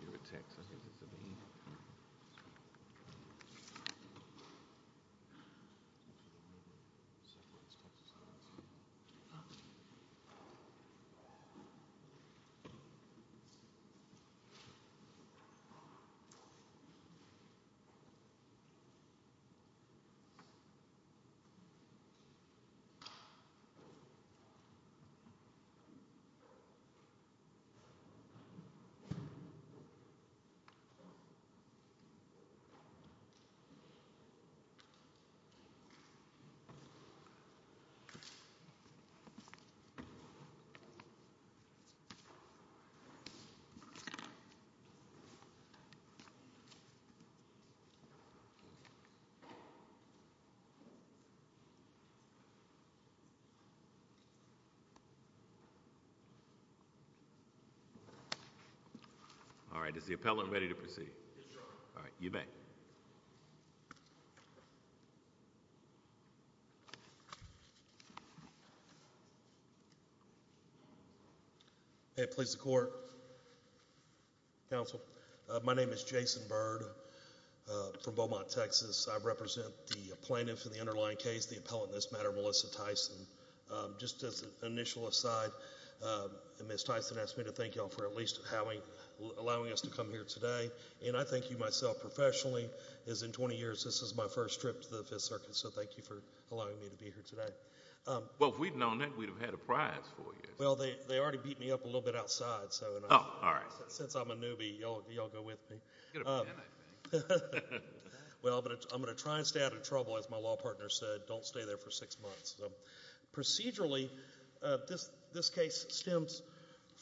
New York, Texas, this is Sabine. Is the appellant ready to proceed? Yes, Your Honor. All right. You may. May it please the Court, Counsel. My name is Jason Byrd from Beaumont, Texas. I represent the plaintiff in the underlying case, the appellant in this matter, Melissa Tyson. Just as an initial aside, Ms. Tyson asked me to thank you all for at least allowing us to come here today, and I thank you myself professionally, as in 20 years this is my first trip to the Fifth Circuit, so thank you for allowing me to be here today. Well, if we'd known that, we'd have had a prize for you. Well, they already beat me up a little bit outside, so since I'm a newbie, y'all go with me. Well, I'm going to try and stay out of trouble, as my law partner said. Don't stay there for six months. Procedurally, this case stems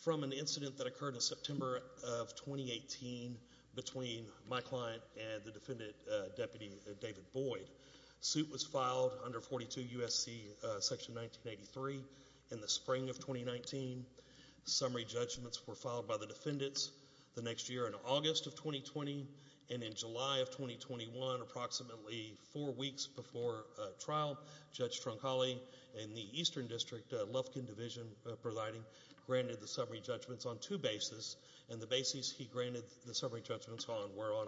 from an incident that occurred in September of 2018 between my client and the defendant, Deputy David Boyd. Suit was filed under 42 U.S.C. section 1983 in the spring of 2019. Summary judgments were filed by the defendants the next year in August of 2020, and in July of 2021, approximately four weeks before trial, Judge Troncalli in the Eastern District Lufkin Division Providing granted the summary judgments on two bases, and the bases he granted the summary judgments on were on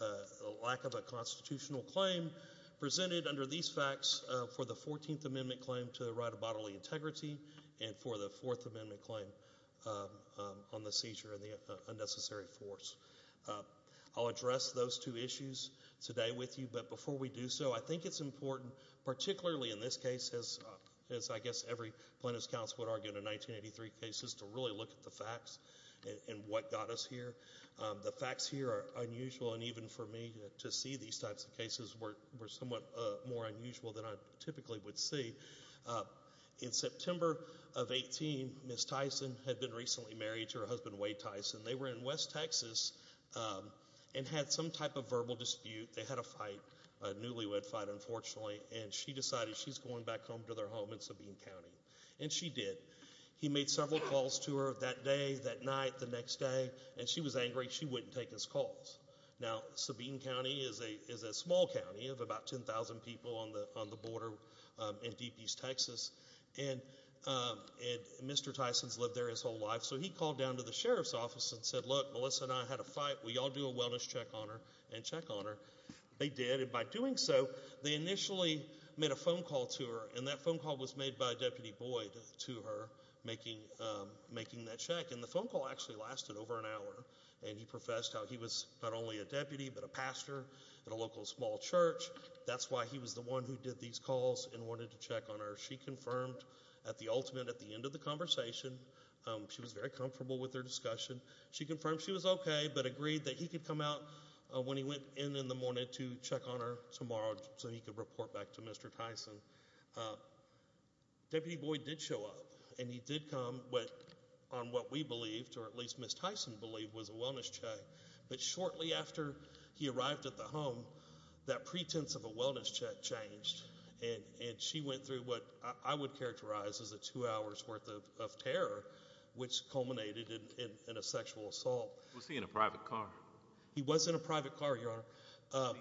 a lack of a constitutional claim presented under these facts for the 14th Amendment claim to the right of bodily integrity and for the Fourth Amendment claim on the seizure of the unnecessary force. I'll address those two issues today with you, but before we do so, I think it's important, particularly in this case, as I guess every plaintiff's counsel would argue in a 1983 case, is to really look at the facts and what got us here. The facts here are unusual, and even for me, to see these types of cases were somewhat more unusual than I typically would see. In September of 18, Ms. Tyson had been recently married to her husband, Wade Tyson. They were in West Texas and had some type of verbal dispute. They had a fight, a newlywed fight, unfortunately, and she decided she's going back home to their home in Sabine County, and she did. He made several calls to her that day, that night, the next day, and she was angry she wouldn't take his calls. Now, Sabine County is a small county of about 10,000 people on the border in Deep East Texas, and Mr. Tyson's lived there his whole life. He called down to the sheriff's office and said, look, Melissa and I had a fight. Will you all do a wellness check on her and check on her? They did, and by doing so, they initially made a phone call to her, and that phone call was made by Deputy Boyd to her, making that check. The phone call actually lasted over an hour, and he professed how he was not only a deputy but a pastor at a local small church. That's why he was the one who did these calls and wanted to check on her. She confirmed at the ultimate, at the end of the conversation. She was very comfortable with their discussion. She confirmed she was okay, but agreed that he could come out when he went in in the morning to check on her tomorrow so he could report back to Mr. Tyson. Deputy Boyd did show up, and he did come on what we believed, or at least Ms. Tyson believed, was a wellness check, but shortly after he arrived at the home, that pretense of a wellness check changed, and she went through what I would characterize as a two hours worth of terror, which culminated in a sexual assault. Was he in a private car? He was in a private car, Your Honor.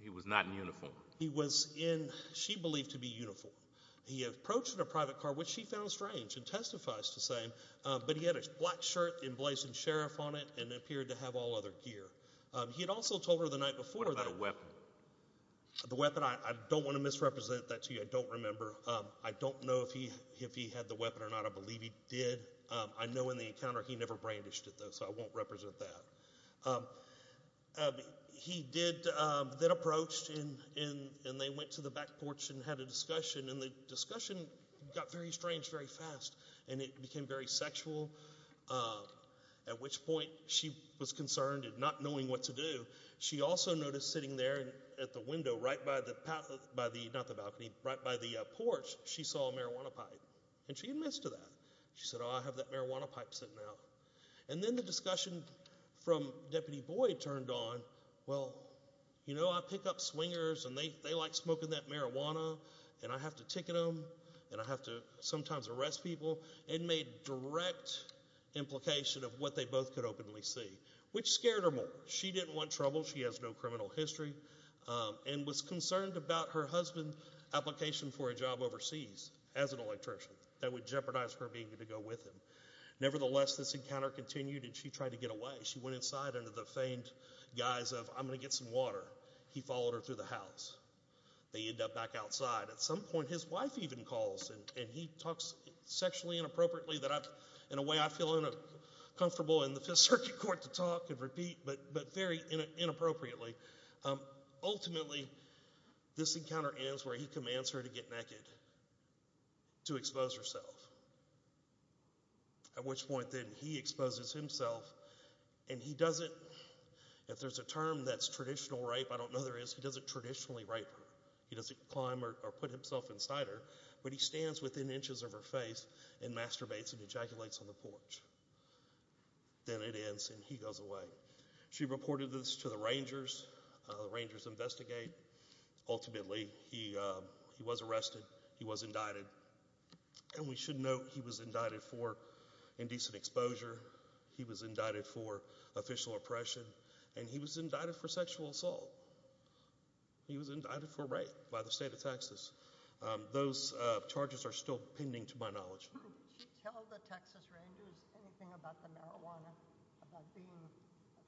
He was not in uniform? He was in what she believed to be uniform. He approached in a private car, which she found strange and testifies to saying, but he had a black shirt emblazoned Sheriff on it and appeared to have all other gear. He had also told her the night before that— What about a weapon? The weapon, I don't want to misrepresent that to you. I don't remember. I don't know if he had the weapon or not. I believe he did. I know in the encounter he never brandished it, though, so I won't represent that. He did then approach, and they went to the back porch and had a discussion, and the discussion got very strange very fast, and it became very sexual, at which point she was concerned and not knowing what to do. She also noticed sitting there at the window right by the porch, she saw a marijuana pipe, and she admissed to that. She said, oh, I have that marijuana pipe sitting out, and then the discussion from Deputy Boyd turned on. Well, you know I pick up swingers, and they like smoking that marijuana, and I have to ticket them, and I have to sometimes arrest people. It made direct implication of what they both could openly see, which scared her more. She didn't want trouble. She has no criminal history and was concerned about her husband's application for a job overseas as an electrician. That would jeopardize her being able to go with him. Nevertheless, this encounter continued, and she tried to get away. She went inside under the feigned guise of I'm going to get some water. He followed her through the house. They end up back outside. At some point, his wife even calls, and he talks sexually inappropriately in a way I very inappropriately. Ultimately, this encounter ends where he commands her to get naked to expose herself, at which point then he exposes himself, and he doesn't. If there's a term that's traditional rape, I don't know there is. He doesn't traditionally rape her. He doesn't climb or put himself inside her, but he stands within inches of her face and masturbates and ejaculates on the porch. Then it ends, and he goes away. She reported this to the Rangers. The Rangers investigate. Ultimately, he was arrested. He was indicted, and we should note he was indicted for indecent exposure. He was indicted for official oppression, and he was indicted for sexual assault. He was indicted for rape by the state of Texas. Those charges are still pending to my knowledge. Did she tell the Texas Rangers anything about the marijuana, about being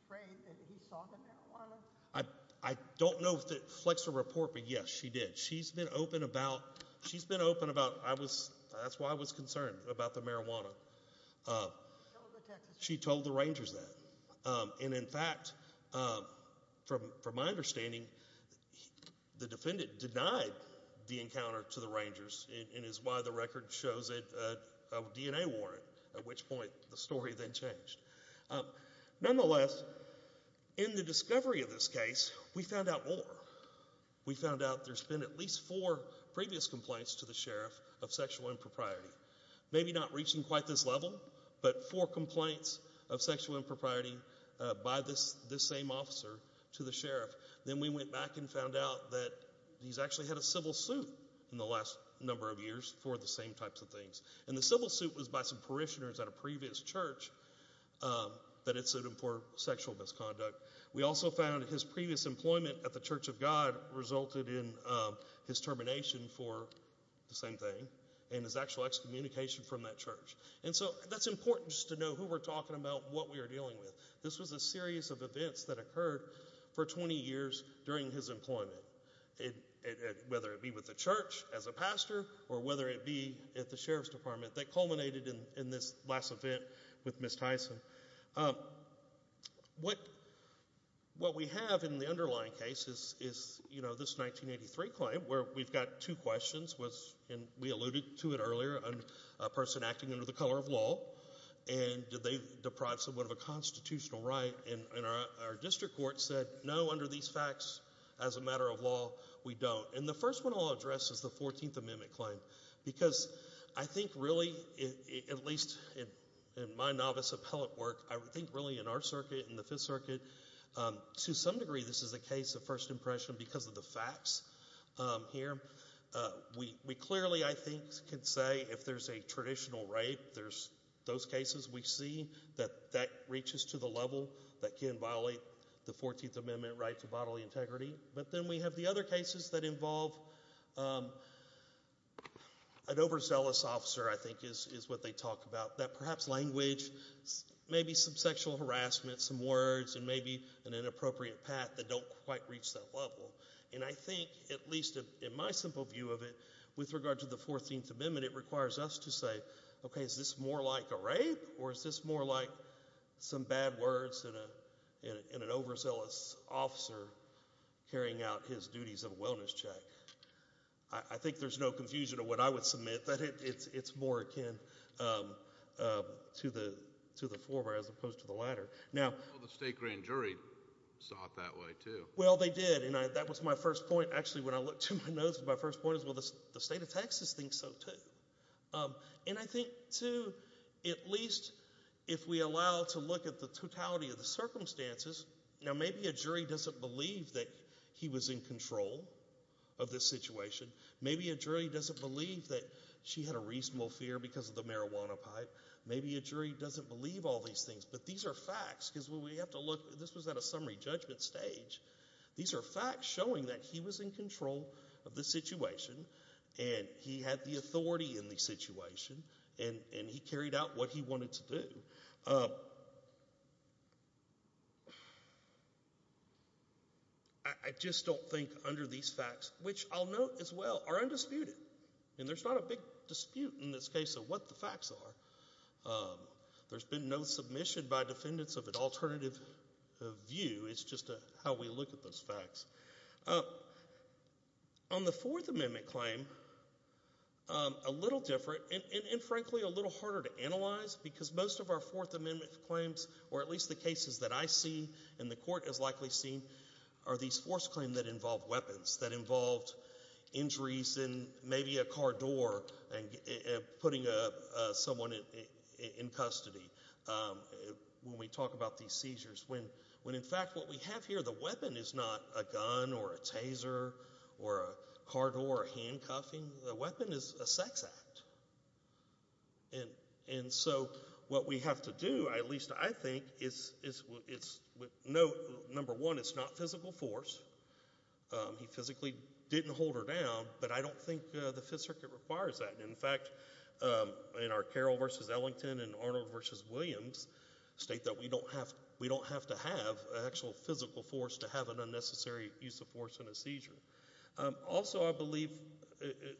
afraid that he saw the marijuana? I don't know if it flexed a report, but yes, she did. She's been open about—she's been open about—I was—that's why I was concerned about the marijuana. She told the Rangers that, and in fact, from my understanding, the defendant denied the encounter to the Rangers, and is why the record shows a DNA warrant, at which point the story then changed. Nonetheless, in the discovery of this case, we found out more. We found out there's been at least four previous complaints to the sheriff of sexual impropriety. Maybe not reaching quite this level, but four complaints of sexual impropriety by this same officer to the sheriff. Then we went back and found out that he's actually had a civil suit in the last number of years for the same types of things, and the civil suit was by some parishioners at a previous church that had sued him for sexual misconduct. We also found his previous employment at the Church of God resulted in his termination for the same thing, and his actual excommunication from that church, and so that's important just to know who we're talking about and what we're dealing with. This was a series of events that occurred for 20 years during his employment, whether it be with the church as a pastor, or whether it be at the sheriff's department that culminated in this last event with Ms. Tyson. What we have in the underlying case is this 1983 claim where we've got two questions, and we alluded to it earlier, a person acting under the color of law, and they deprived someone of a constitutional right, and our district court said, no, under these facts as a matter of law, we don't. The first one I'll address is the 14th Amendment claim, because I think really, at least in my novice appellate work, I think really in our circuit, in the Fifth Circuit, to some degree this is a case of first impression because of the facts here. We clearly, I think, can say if there's a traditional rape, there's those cases we see that that reaches to the level that can violate the 14th Amendment right to bodily integrity. But then we have the other cases that involve an overzealous officer, I think is what they talk about, that perhaps language, maybe some sexual harassment, some words, and maybe an inappropriate path that don't quite reach that level. And I think, at least in my simple view of it, with regard to the 14th Amendment, it is more like some bad words and an overzealous officer carrying out his duties of a wellness check. I think there's no confusion of what I would submit, that it's more akin to the former as opposed to the latter. Now— Well, the state grand jury saw it that way, too. Well, they did, and that was my first point. Actually, when I looked in my notes, my first point is, well, the state of Texas thinks so, too. And I think, too, at least if we allow to look at the totality of the circumstances—now, maybe a jury doesn't believe that he was in control of this situation. Maybe a jury doesn't believe that she had a reasonable fear because of the marijuana pipe. Maybe a jury doesn't believe all these things. But these are facts, because we have to look—this was at a summary judgment stage. These are facts showing that he was in control of the situation, and he had the authority in the situation, and he carried out what he wanted to do. I just don't think under these facts, which I'll note as well, are undisputed. And there's not a big dispute in this case of what the facts are. There's been no submission by defendants of an alternative view. On the Fourth Amendment claim, a little different and, frankly, a little harder to analyze, because most of our Fourth Amendment claims, or at least the cases that I see and the court has likely seen, are these forced claims that involve weapons, that involved injuries in maybe a car door and putting someone in custody when we talk about these seizures, when, in fact, what we have here, the weapon is not a gun or a taser or a car door or handcuffing. The weapon is a sex act. And so what we have to do, at least I think, is note, number one, it's not physical force. He physically didn't hold her down, but I don't think the Fifth Circuit requires that. In fact, in our Carroll v. Ellington and Arnold v. Williams state that we don't have to have actual physical force to have an unnecessary use of force in a seizure. Also, I believe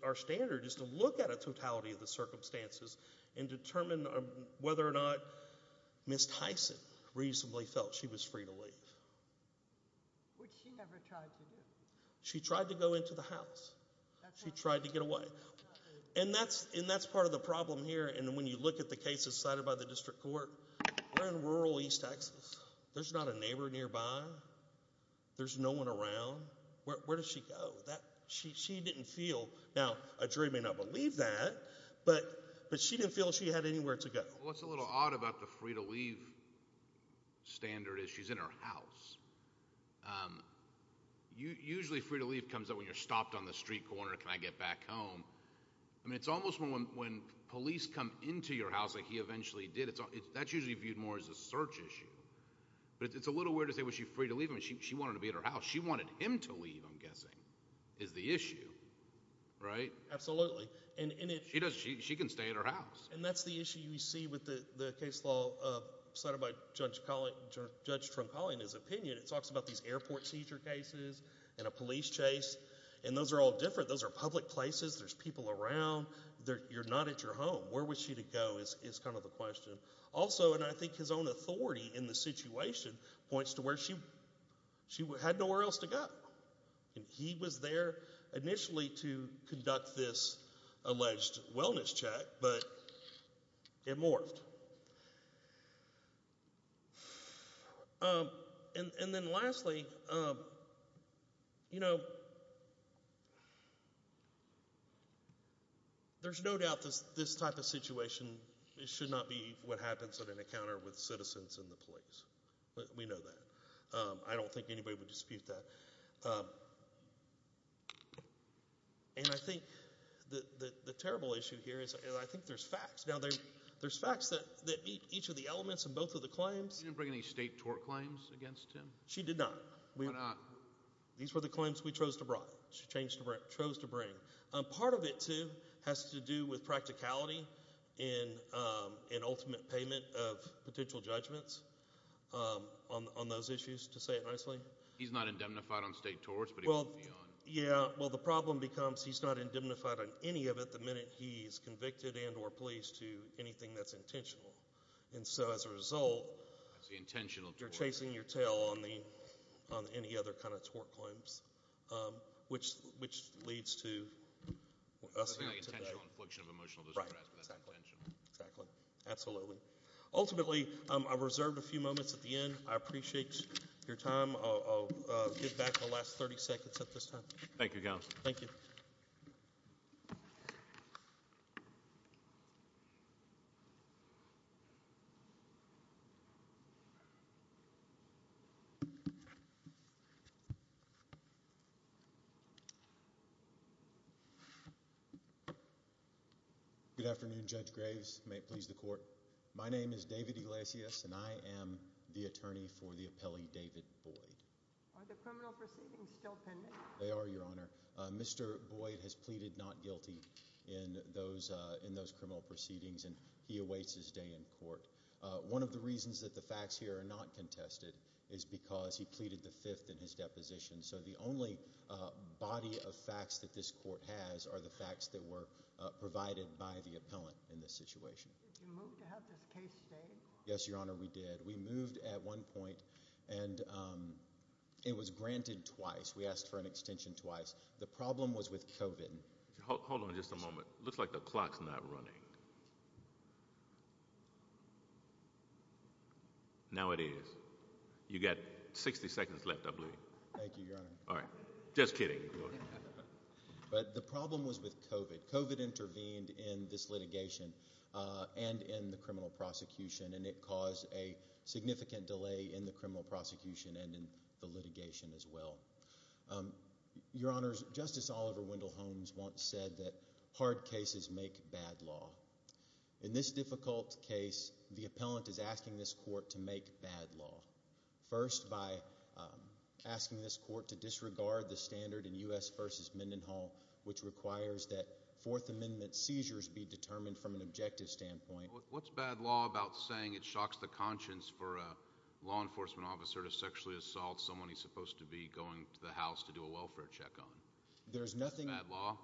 our standard is to look at a totality of the circumstances and determine whether or not Ms. Tyson reasonably felt she was free to leave. Which she never tried to do. She tried to go into the house. She tried to get away. And that's part of the problem here. And when you look at the cases cited by the district court, we're in rural East Texas. There's not a neighbor nearby. There's no one around. Where does she go? She didn't feel. Now, a jury may not believe that, but she didn't feel she had anywhere to go. Well, what's a little odd about the free to leave standard is she's in her house. Usually free to leave comes up when you're stopped on the street corner. Can I get back home? I mean, it's almost when police come into your house like he eventually did. That's usually viewed more as a search issue. But it's a little weird to say, was she free to leave him? She wanted to be at her house. She wanted him to leave, I'm guessing, is the issue. Right? Absolutely. And she can stay at her house. And that's the issue you see with the case law cited by Judge Trump calling his opinion. It talks about these airport seizure cases and a police chase. And those are all different. Those are public places. There's people around. You're not at your home. Where was she to go is kind of the question. Also, and I think his own authority in the situation points to where she had nowhere else to go. And he was there initially to conduct this alleged wellness check, but it morphed. And then lastly, you know, there's no doubt this type of situation, it should not be what happens at an encounter with citizens and the police. We know that. I don't think anybody would dispute that. And I think the terrible issue here is, I think there's facts. Now, there's facts that meet each of the elements in both of the claims. You didn't bring any state tort claims against him? She did not. Why not? These were the claims we chose to bring. She chose to bring. Part of it, too, has to do with practicality in an ultimate payment of potential judgments on those issues, to say it nicely. He's not indemnified on state torts? Yeah, well, the problem becomes he's not indemnified on any of it the minute he's convicted and or policed to anything that's intentional. And so as a result, you're chasing your tail on any other kind of tort claims, which which leads to. Absolutely. Ultimately, I reserved a few moments at the end. I appreciate your time. I'll get back the last 30 seconds at this time. Thank you. Good afternoon, Judge Graves. May it please the court. My name is David Iglesias, and I am the attorney for the appellee David Boyd. Are the criminal proceedings still pending? They are, Your Honor. Mr. Boyd has pleaded not guilty in those in those criminal proceedings, and he awaits his day in court. One of the reasons that the facts here are not contested is because he pleaded the fifth in his deposition. So the only body of facts that this court has are the facts that were provided by the appellant in this situation. Did you move to have this case stayed? Yes, Your Honor, we did. We moved at one point and it was granted twice. We asked for an extension twice. The problem was with COVID. Hold on just a moment. Looks like the clock's not running. Now it is. You got 60 seconds left, I believe. Thank you, Your Honor. All right. Just kidding. But the problem was with COVID. COVID intervened in this litigation and in the criminal prosecution, and it caused a significant delay in the criminal prosecution and in the litigation as well. Your Honor, Justice Oliver Wendell Holmes once said that hard cases make bad law. In this difficult case, the appellant is asking this court to make bad law. First, by asking this court to disregard the standard in U.S. v. Mendenhall, which requires that Fourth Amendment seizures be determined from an objective standpoint. What's bad law about saying it shocks the conscience for a law enforcement officer to sexually assault someone he's supposed to be going to the house to do a welfare check on? There's nothing— Bad law?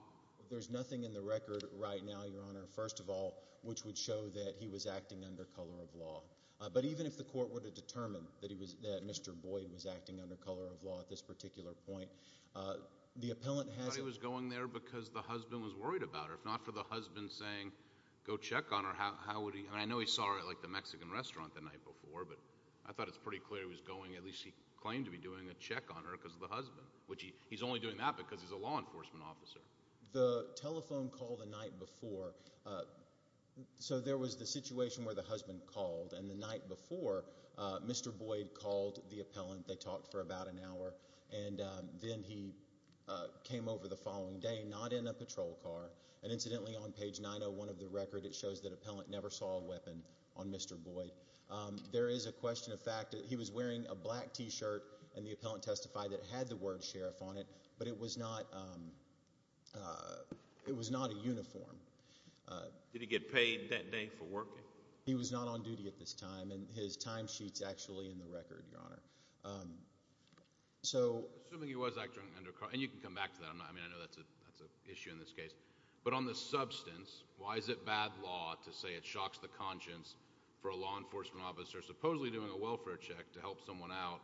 There's nothing in the record right now, Your Honor, first of all, which would show that he was acting under color of law. But even if the court were to determine that he was—that Mr. Boyd was acting under color of law at this particular point, the appellant has— He was going there because the husband was worried about her. If not for the husband saying, go check on her, how would he—I mean, I know he saw her at, like, the Mexican restaurant the night before, but I thought it's pretty clear he was going—at least he claimed to be doing a check on her because of the husband, which he's only doing that because he's a law enforcement officer. night before, Mr. Boyd called the appellant. They talked for about an hour, and then he came over the following day, not in a patrol car. And incidentally, on page 901 of the record, it shows that appellant never saw a weapon on Mr. Boyd. There is a question of fact that he was wearing a black t-shirt, and the appellant testified that it had the word sheriff on it, but it was not—it was not a uniform. Did he get paid that day for working? He was not on duty at this time, and his timesheet's actually in the record, Your Honor. So— Assuming he was acting under—and you can come back to that. I mean, I know that's an issue in this case. But on the substance, why is it bad law to say it shocks the conscience for a law enforcement officer supposedly doing a welfare check to help someone out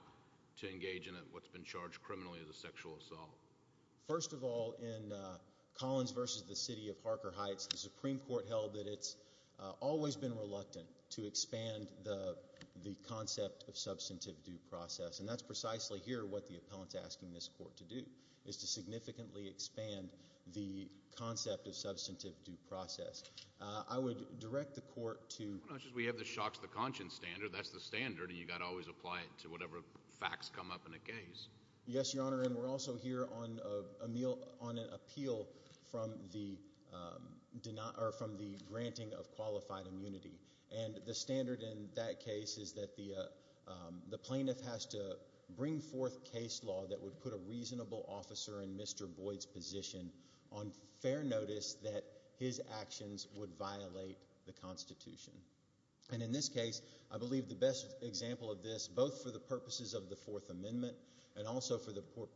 to engage in what's been charged criminally as a sexual assault? First of all, in Collins v. the City of Harker Heights, the Supreme Court held that it's always been reluctant to expand the concept of substantive due process, and that's precisely here what the appellant's asking this court to do, is to significantly expand the concept of substantive due process. I would direct the court to— Well, not just we have the shocks the conscience standard. That's the standard, and you've got to always apply it to whatever facts come up in a case. Yes, Your Honor. And we're also here on an appeal from the granting of qualified immunity. And the standard in that case is that the plaintiff has to bring forth case law that would put a reasonable officer in Mr. Boyd's position on fair notice that his actions would violate the Constitution. And in this case, I believe the best example of this, both for the purposes of the Fourth and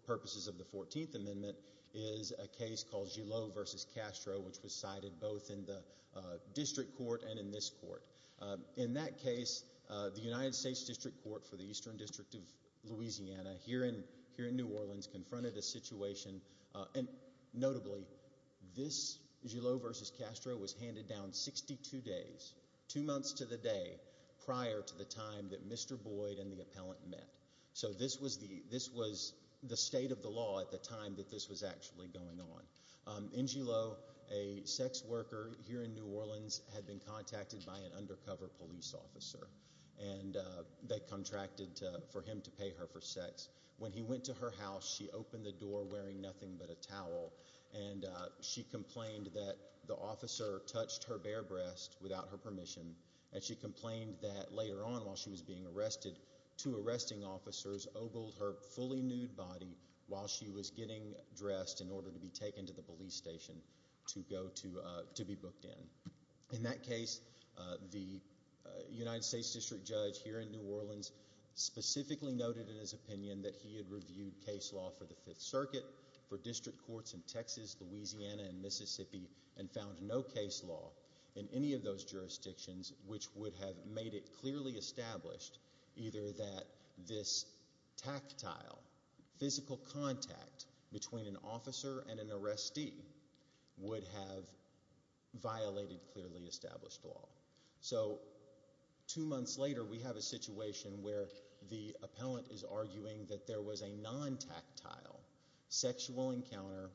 purposes of the Fourteenth Amendment, is a case called Gillot v. Castro, which was cited both in the district court and in this court. In that case, the United States District Court for the Eastern District of Louisiana here in New Orleans confronted a situation, and notably, this Gillot v. Castro was handed down 62 days, two months to the day, prior to the time that Mr. Boyd and the appellant met. So this was the state of the law at the time that this was actually going on. In Gillot, a sex worker here in New Orleans had been contacted by an undercover police officer, and they contracted for him to pay her for sex. When he went to her house, she opened the door wearing nothing but a towel, and she complained that the officer touched her bare breast without her permission, and she complained that later on, while she was being arrested, two arresting officers oboled her fully nude body while she was getting dressed in order to be taken to the police station to be booked in. In that case, the United States District Judge here in New Orleans specifically noted in his opinion that he had reviewed case law for the Fifth Circuit, for district courts in Texas, Louisiana, and Mississippi, and found no case law in any of those jurisdictions which would have made it clearly established either that this tactile, physical contact between an officer and an arrestee would have violated clearly established law. So two months later, we have a situation where the appellant is arguing that there was a non-tactile sexual encounter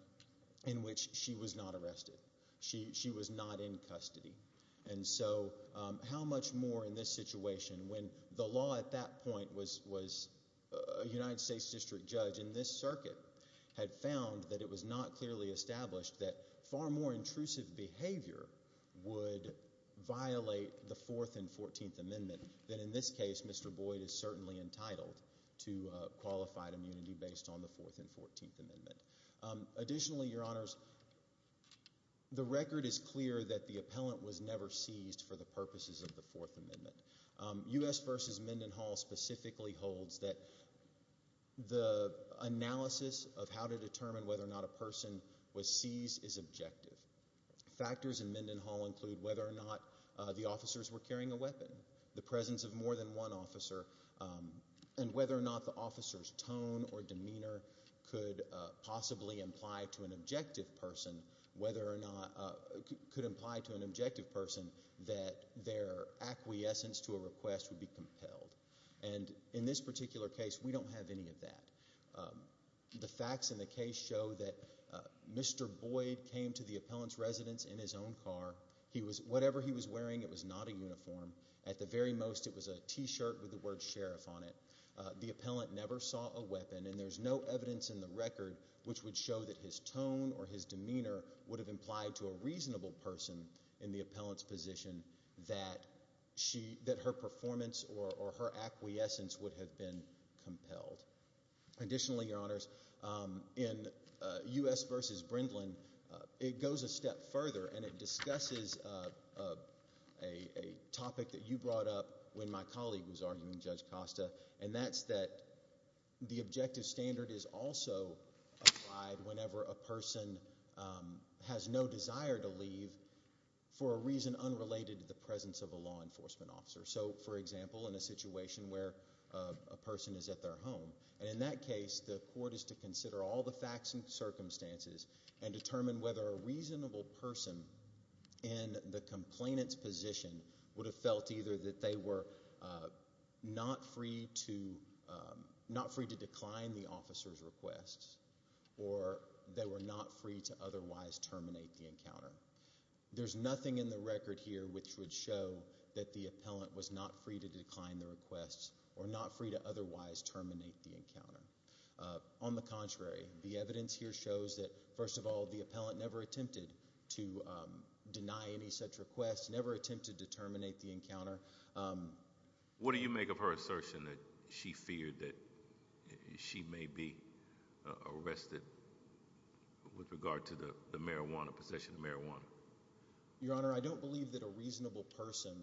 in which she was not arrested. She was not in custody. And so how much more in this situation when the law at that point was a United States District Judge in this circuit had found that it was not clearly established that far more intrusive behavior would violate the Fourth and Fourteenth Amendment than in this case Mr. Boyd is certainly entitled to qualified immunity based on the Fourth and Fourteenth Amendment. Additionally, Your Honors, the record is clear that the appellant was never seized for the purposes of the Fourth Amendment. U.S. versus Mendenhall specifically holds that the analysis of how to determine whether or not a person was seized is objective. Factors in Mendenhall include whether or not the officers were carrying a weapon, the presence of more than one officer, and whether or not the officer's tone or demeanor could imply to an objective person that their acquiescence to a request would be compelled. And in this particular case, we don't have any of that. The facts in the case show that Mr. Boyd came to the appellant's residence in his own car. Whatever he was wearing, it was not a uniform. At the very most, it was a t-shirt with the word sheriff on it. The appellant never saw a weapon and there's no evidence in the record which would show that his tone or his demeanor would have implied to a reasonable person in the appellant's position that her performance or her acquiescence would have been compelled. Additionally, Your Honors, in U.S. versus Brindlin, it goes a step further and it discusses a topic that you brought up when my colleague was arguing Judge Costa and that's that the objective standard is also applied whenever a person has no desire to leave for a reason unrelated to the presence of a law enforcement officer. So, for example, in a situation where a person is at their home, and in that case, the court is to consider all the facts and circumstances and determine whether a reasonable person in the complainant's position would have felt either that they were not free to decline the officer's request or they were not free to otherwise terminate the encounter. There's nothing in the record here which would show that the appellant was not free to decline the request or not free to otherwise terminate the encounter. On the contrary, the evidence here shows that, first of all, the appellant never attempted to deny any such request, never attempted to terminate the encounter. What do you make of her assertion that she feared that she may be arrested with regard to the marijuana, possession of marijuana? Your Honor, I don't believe that a reasonable person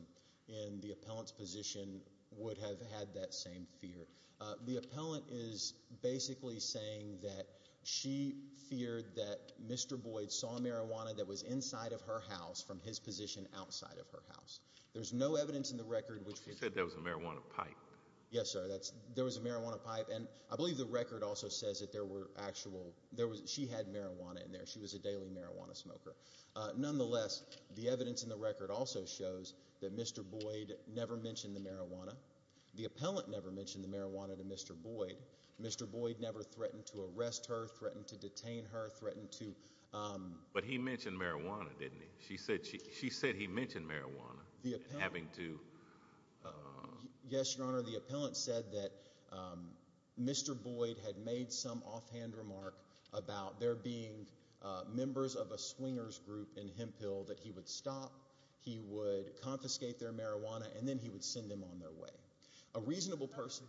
in the appellant's position would have had that same fear. The appellant is basically saying that she feared that Mr. Boyd saw marijuana that was inside of her house from his position outside of her house. There's no evidence in the record which would... She said there was a marijuana pipe. Yes, sir. There was a marijuana pipe, and I believe the record also says that there were actual...she had marijuana in there. She was a daily marijuana smoker. Nonetheless, the evidence in the record also shows that Mr. Boyd never mentioned the marijuana. The appellant never mentioned the marijuana to Mr. Boyd. Mr. Boyd never threatened to arrest her, threatened to detain her, threatened to... But he mentioned marijuana, didn't he? She said he mentioned marijuana, having to... Yes, Your Honor, the appellant said that Mr. Boyd had made some offhand remark about there being members of a swingers group in Hemphill that he would stop, he would confiscate their marijuana, and then he would send them on their way. A reasonable person...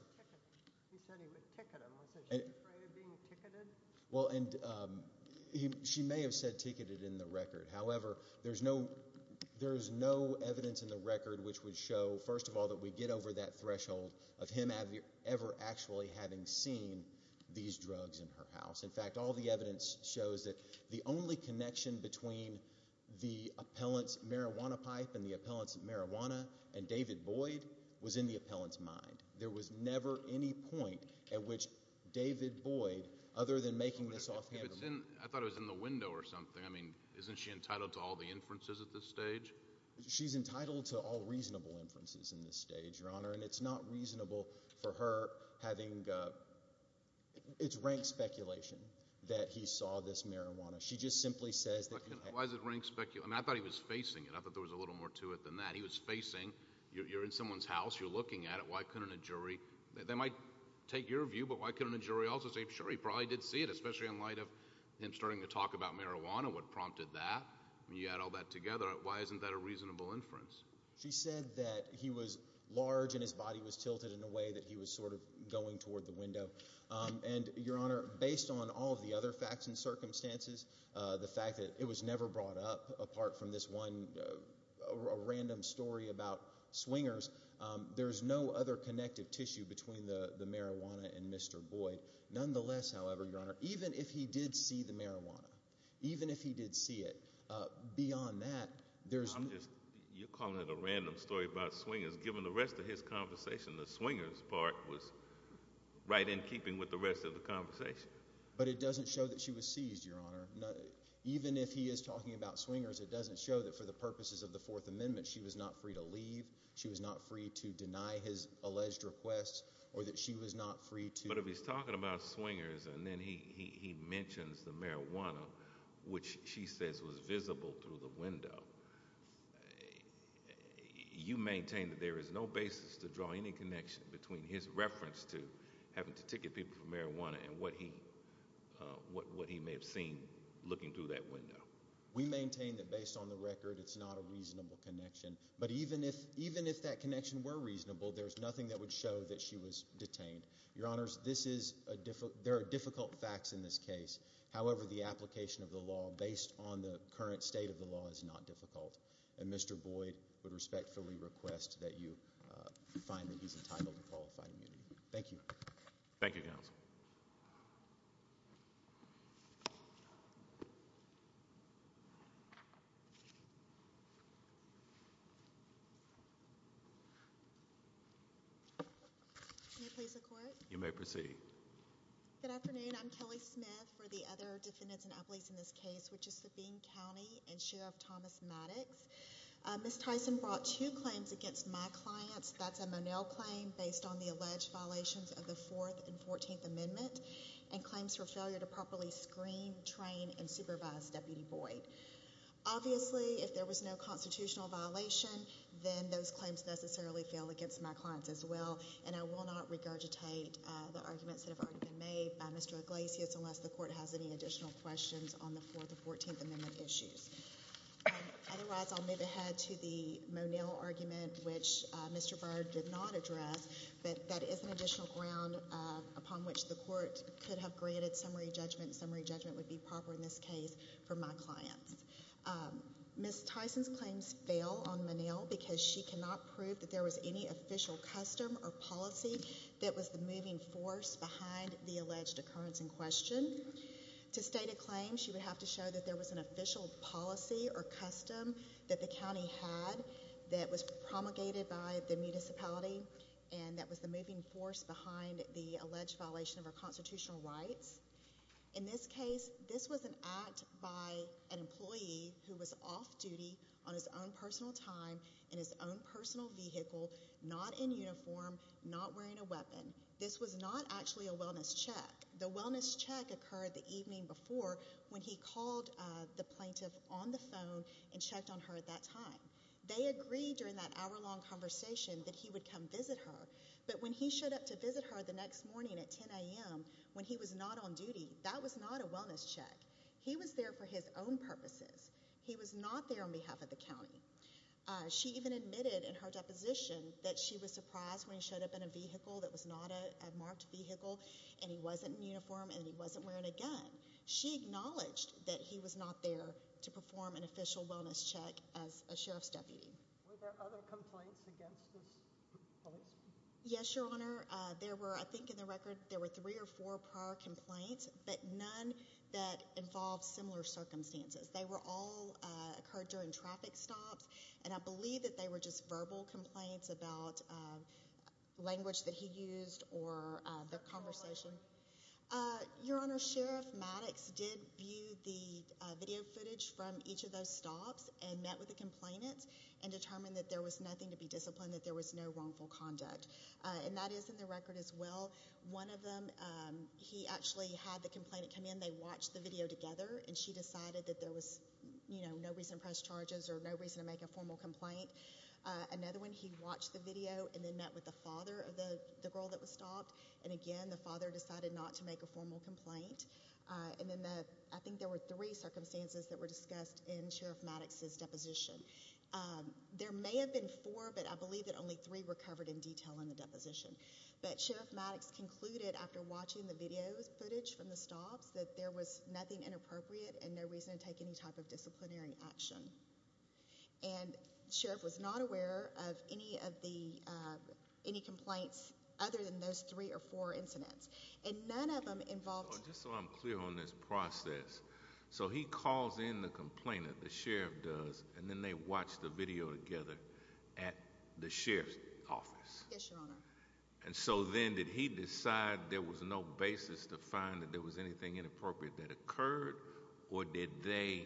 He said he would ticket them. Was she afraid of being ticketed? Well, and she may have said ticketed in the record. However, there's no evidence in the record which would show, first of all, that we get over that threshold of him ever actually having seen these drugs in her house. In fact, all the evidence shows that the only connection between the appellant's marijuana pipe and the appellant's marijuana and David Boyd was in the appellant's mind. There was never any point at which David Boyd, other than making this offhand remark... I thought it was in the window or something. I mean, isn't she entitled to all the inferences at this stage? She's entitled to all reasonable inferences in this stage, Your Honor, and it's not reasonable for her having... It's rank speculation that he saw this marijuana. She just simply says that... Why is it rank speculation? I mean, I thought he was facing it. I thought there was a little more to it than that. He was facing, you're in someone's house, you're looking at it, why couldn't a jury... They might take your view, but why couldn't a jury also say, sure, he probably did see it, especially in light of him starting to talk about marijuana, what prompted that. You add all that together, why isn't that a reasonable inference? She said that he was large and his body was tilted in a way that he was sort of going toward the window. And, Your Honor, based on all of the other facts and circumstances, the fact that it was never brought up, apart from this one random story about swingers, there's no other connective tissue between the marijuana and Mr. Boyd. Nonetheless, however, Your Honor, even if he did see the marijuana, even if he did see it, beyond that... You're calling it a random story about swingers. Given the rest of his conversation, the swingers part was right in keeping with the rest of the conversation. But it doesn't show that she was seized, Your Honor. Even if he is talking about swingers, it doesn't show that for the purposes of the Fourth Amendment, she was not free to leave, she was not free to deny his alleged requests, or that she was not free to... But if he's talking about swingers and then he mentions the marijuana, which she says was visible through the window, you maintain that there is no basis to draw any connection between his reference to having to ticket people for marijuana and what he may have seen looking through that window? We maintain that based on the record, it's not a reasonable connection. But even if that connection were reasonable, there's nothing that would show that she was detained. Your Honors, there are difficult facts in this case. However, the application of the law based on the current state of the law is not difficult. And Mr. Boyd would respectfully request that you find that he's entitled to qualified immunity. Thank you. Thank you, Counsel. You may proceed. Good afternoon. I'm Kelly Smith for the other defendants and appellees in this case, which is Sabine County and Sheriff Thomas Maddox. Ms. Tyson brought two claims against my clients. That's a Monell claim based on the alleged violations of the 4th and 14th Amendment and claims for failure to properly screen, train, and supervise Deputy Boyd. Obviously, if there was no constitutional violation, then those claims necessarily fail against my clients as well. And I will not regurgitate the arguments that have already been made by Mr. Iglesias unless the court has any additional questions on the 4th and 14th Amendment issues. Otherwise, I'll move ahead to the Monell argument, which Mr. Boyd did not address, but that is an additional ground upon which the court could have granted summary judgment. Summary judgment would be proper in this case for my clients. Ms. Tyson's claims fail on Monell because she cannot prove that there was any official custom or policy that was the moving force behind the alleged occurrence in question. To state a claim, she would have to show that there was an official policy or custom that the county had that was promulgated by the municipality and that was the moving force behind the alleged violation of our constitutional rights. In this case, this was an act by an employee who was off duty on his own personal time in his own personal vehicle, not in uniform, not wearing a weapon. This was not actually a wellness check. The wellness check occurred the evening before when he called the plaintiff on the phone and checked on her at that time. They agreed during that hour-long conversation that he would come visit her, but when he showed up to visit her the next morning at 10 a.m. when he was not on duty, that was not a wellness check. He was there for his own purposes. He was not there on behalf of the county. She even admitted in her deposition that she was surprised when he showed up in a uniform and he wasn't wearing a gun. She acknowledged that he was not there to perform an official wellness check as a sheriff's deputy. Were there other complaints against this policeman? Yes, your honor. There were, I think in the record, there were three or four prior complaints, but none that involved similar circumstances. They were all occurred during traffic stops and I believe that were just verbal complaints about language that he used or the conversation. Your honor, Sheriff Maddox did view the video footage from each of those stops and met with the complainants and determined that there was nothing to be disciplined, that there was no wrongful conduct, and that is in the record as well. One of them, he actually had the complainant come in. They watched the video together and she decided that there was, you know, no reason to press charges or no reason to make a Another one, he watched the video and then met with the father of the the girl that was stopped and again the father decided not to make a formal complaint. And then the, I think there were three circumstances that were discussed in Sheriff Maddox's deposition. There may have been four, but I believe that only three were covered in detail in the deposition. But Sheriff Maddox concluded after watching the video footage from the stops that there was nothing inappropriate and no reason to take any type of disciplinary action. And Sheriff was not aware of any of the any complaints other than those three or four incidents and none of them involved. Just so I'm clear on this process, so he calls in the complainant, the sheriff does, and then they watch the video together at the sheriff's office. Yes, your honor. And so then did he decide there was no basis to find that there was anything inappropriate that occurred or did they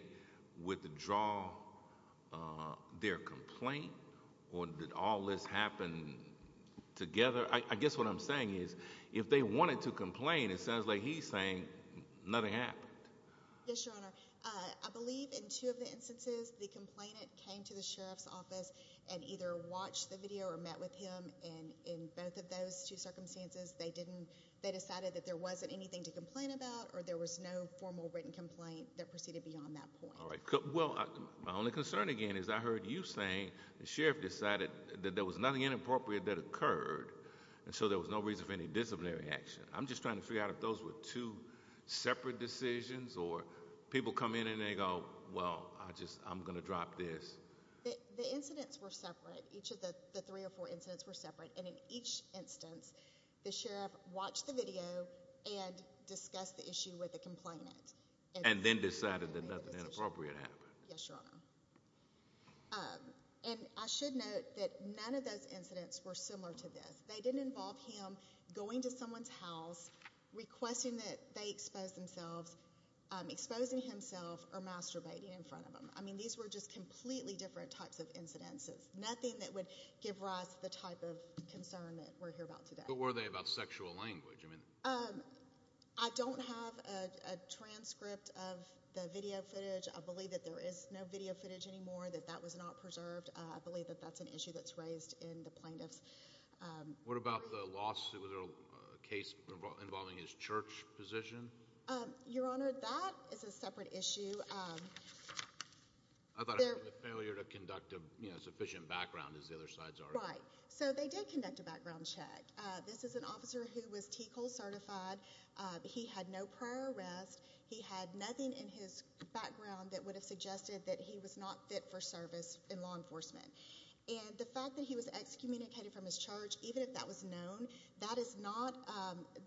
withdraw their complaint or did all this happen together? I guess what I'm saying is if they wanted to complain, it sounds like he's saying nothing happened. Yes, your honor. I believe in two of the instances the complainant came to the sheriff's office and either watched the video or met with him. And in both of those two circumstances, they didn't. They decided that there wasn't anything to complain about or there was no formal written complaint that proceeded beyond that point. All right. Well, my only concern again is I heard you saying the sheriff decided that there was nothing inappropriate that occurred and so there was no reason for any disciplinary action. I'm just trying to figure out if those were two separate decisions or people come in and they go, well, I just I'm going to drop this. The incidents were separate. Each of the three or four incidents were separate. And in each instance, the sheriff watched the video and discussed the issue with the complainant and then decided that nothing inappropriate happened. Yes, your honor. And I should note that none of those incidents were similar to this. They didn't involve him going to someone's house, requesting that they expose themselves, exposing himself or masturbating in front of him. I mean, these were just completely different types of incidences, nothing that would give rise to the type of concern that we're here about today. But were they about sexual language? I mean, I don't have a transcript of the video footage. I believe that there is no video footage anymore, that that was not preserved. I believe that that's an issue that's raised in the plaintiffs. What about the lawsuit case involving his church position? Your honor, that is a separate issue. I thought it was a failure to conduct a sufficient background, as the other sides are. Right. So they did conduct a background check. This is an officer who was TCOL certified. He had no prior arrest. He had nothing in his background that would have suggested that he was not fit for service in law enforcement. And the fact that he was excommunicated from his charge, even if that was known, that is not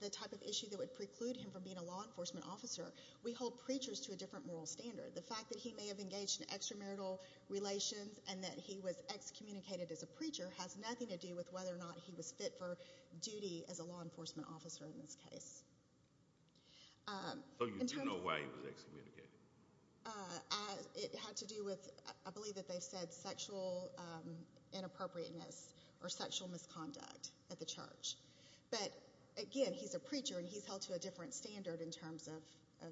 the type of issue that would preclude him from being a law enforcement officer. We hold preachers to a different moral standard. The fact that he may have engaged in extramarital relations and that he was excommunicated as a preacher has nothing to do with whether or not he was fit for duty as a law enforcement officer in this case. So you do know why he was excommunicated? It had to do with, I believe that they said, sexual inappropriateness or sexual misconduct at the church. But again, he's a preacher and he's held to a different standard in terms of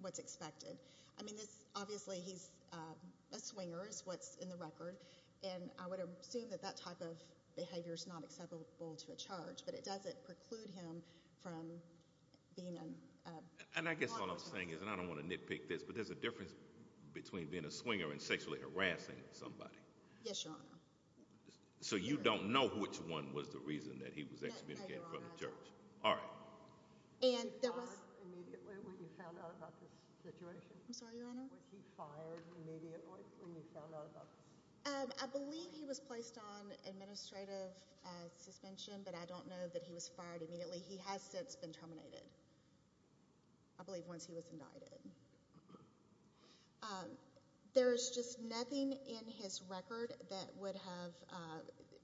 what's expected. I mean, obviously he's a swinger, is what's in the record. And I would assume that that type of behavior is not acceptable to a charge, but it doesn't preclude him from being a law enforcement officer. And I guess what I'm saying is, and I don't want to nitpick this, but there's a difference between being a swinger and sexually harassing somebody. Yes, Your Honor. So you don't know which one was the reason that he was excommunicated from the church? No, Your Honor. All right. Was he fired immediately when you found out about this situation? I'm sorry, Your Honor? Was he fired immediately when you found out about this? I believe he was placed on administrative suspension, but I don't know that he was fired immediately. He has since been terminated, I believe, once he was indicted. There's just nothing in his record that would have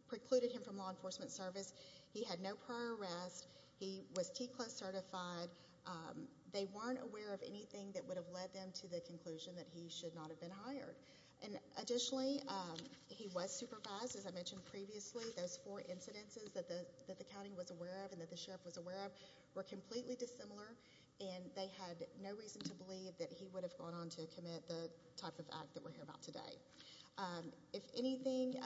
precluded him from law enforcement service. He had no prior arrest. He was TCLA certified. They weren't aware of anything that would have led them to the conclusion that he should not have been hired. And additionally, he was supervised. As I mentioned previously, those four incidences that the county was aware of and that the sheriff was aware of were completely dissimilar, and they had no reason to believe that he would have gone on to commit the type of act that we're here about today. If anything,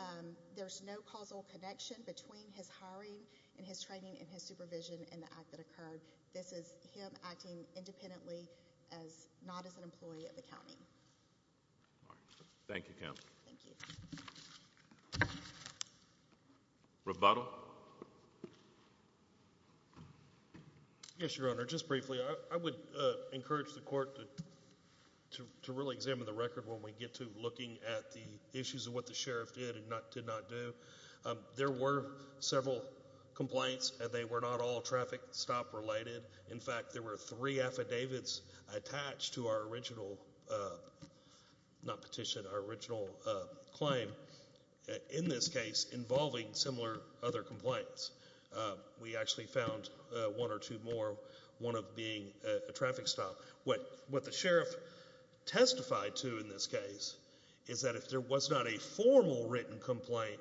there's no causal connection between his hiring and his training and his supervision and the act that occurred. This is him acting independently as not as an employee of the county. All right. Thank you, counsel. Thank you. Rebuttal. Yes, Your Honor. Just briefly, I would encourage the court to really examine the record when we get to looking at the issues of what the sheriff did and did not do. There were several complaints, and they were not all traffic stop related. In fact, there were three affidavits attached to our original, not petition, our original claim in this case involving similar other complaints. We actually found one or two more, one of being a traffic stop. What the sheriff testified to in this case is that if there was not a formal written complaint,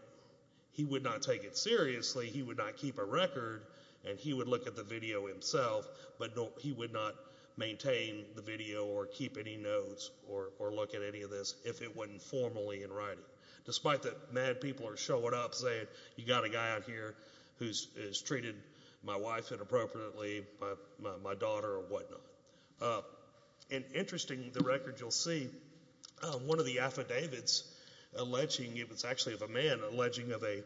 he would not take it seriously. He would not keep a record, and he would look at the video himself, but he would not maintain the video or keep any notes or look at any of this if it wasn't formally in writing, despite the mad people are showing up saying, you got a guy out here who's treated my wife inappropriately, my daughter or whatnot. And interesting, the record you'll see, one of the affidavits alleging, it was actually of a man alleging of an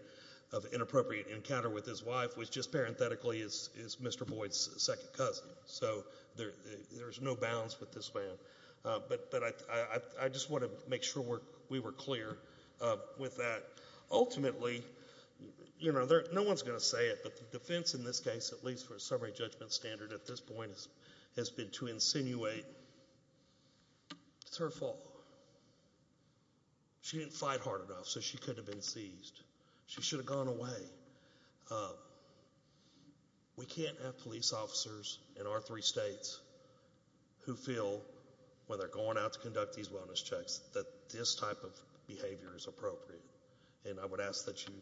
inappropriate encounter with his wife, which just parenthetically is Mr. Boyd's second cousin. So there's no bounds with this man. But I just want to make sure we were clear with that. Ultimately, you know, no one's going to say it, but the defense in this case, at least for a summary judgment standard at this point, has been to insinuate it's her fault. She didn't fight hard enough, so she could have been seized. She should have gone away. We can't have police officers in our three states who feel when they're going out to conduct these wellness checks that this type of behavior is appropriate. And I would ask that you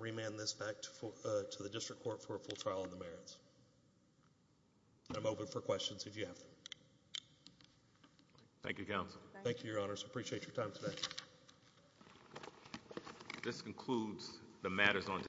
remand this back to the district court for a full trial on the merits. I'm open for questions if you have them. Thank you, counsel. Thank you, your honors. Appreciate your time today. This concludes the matters on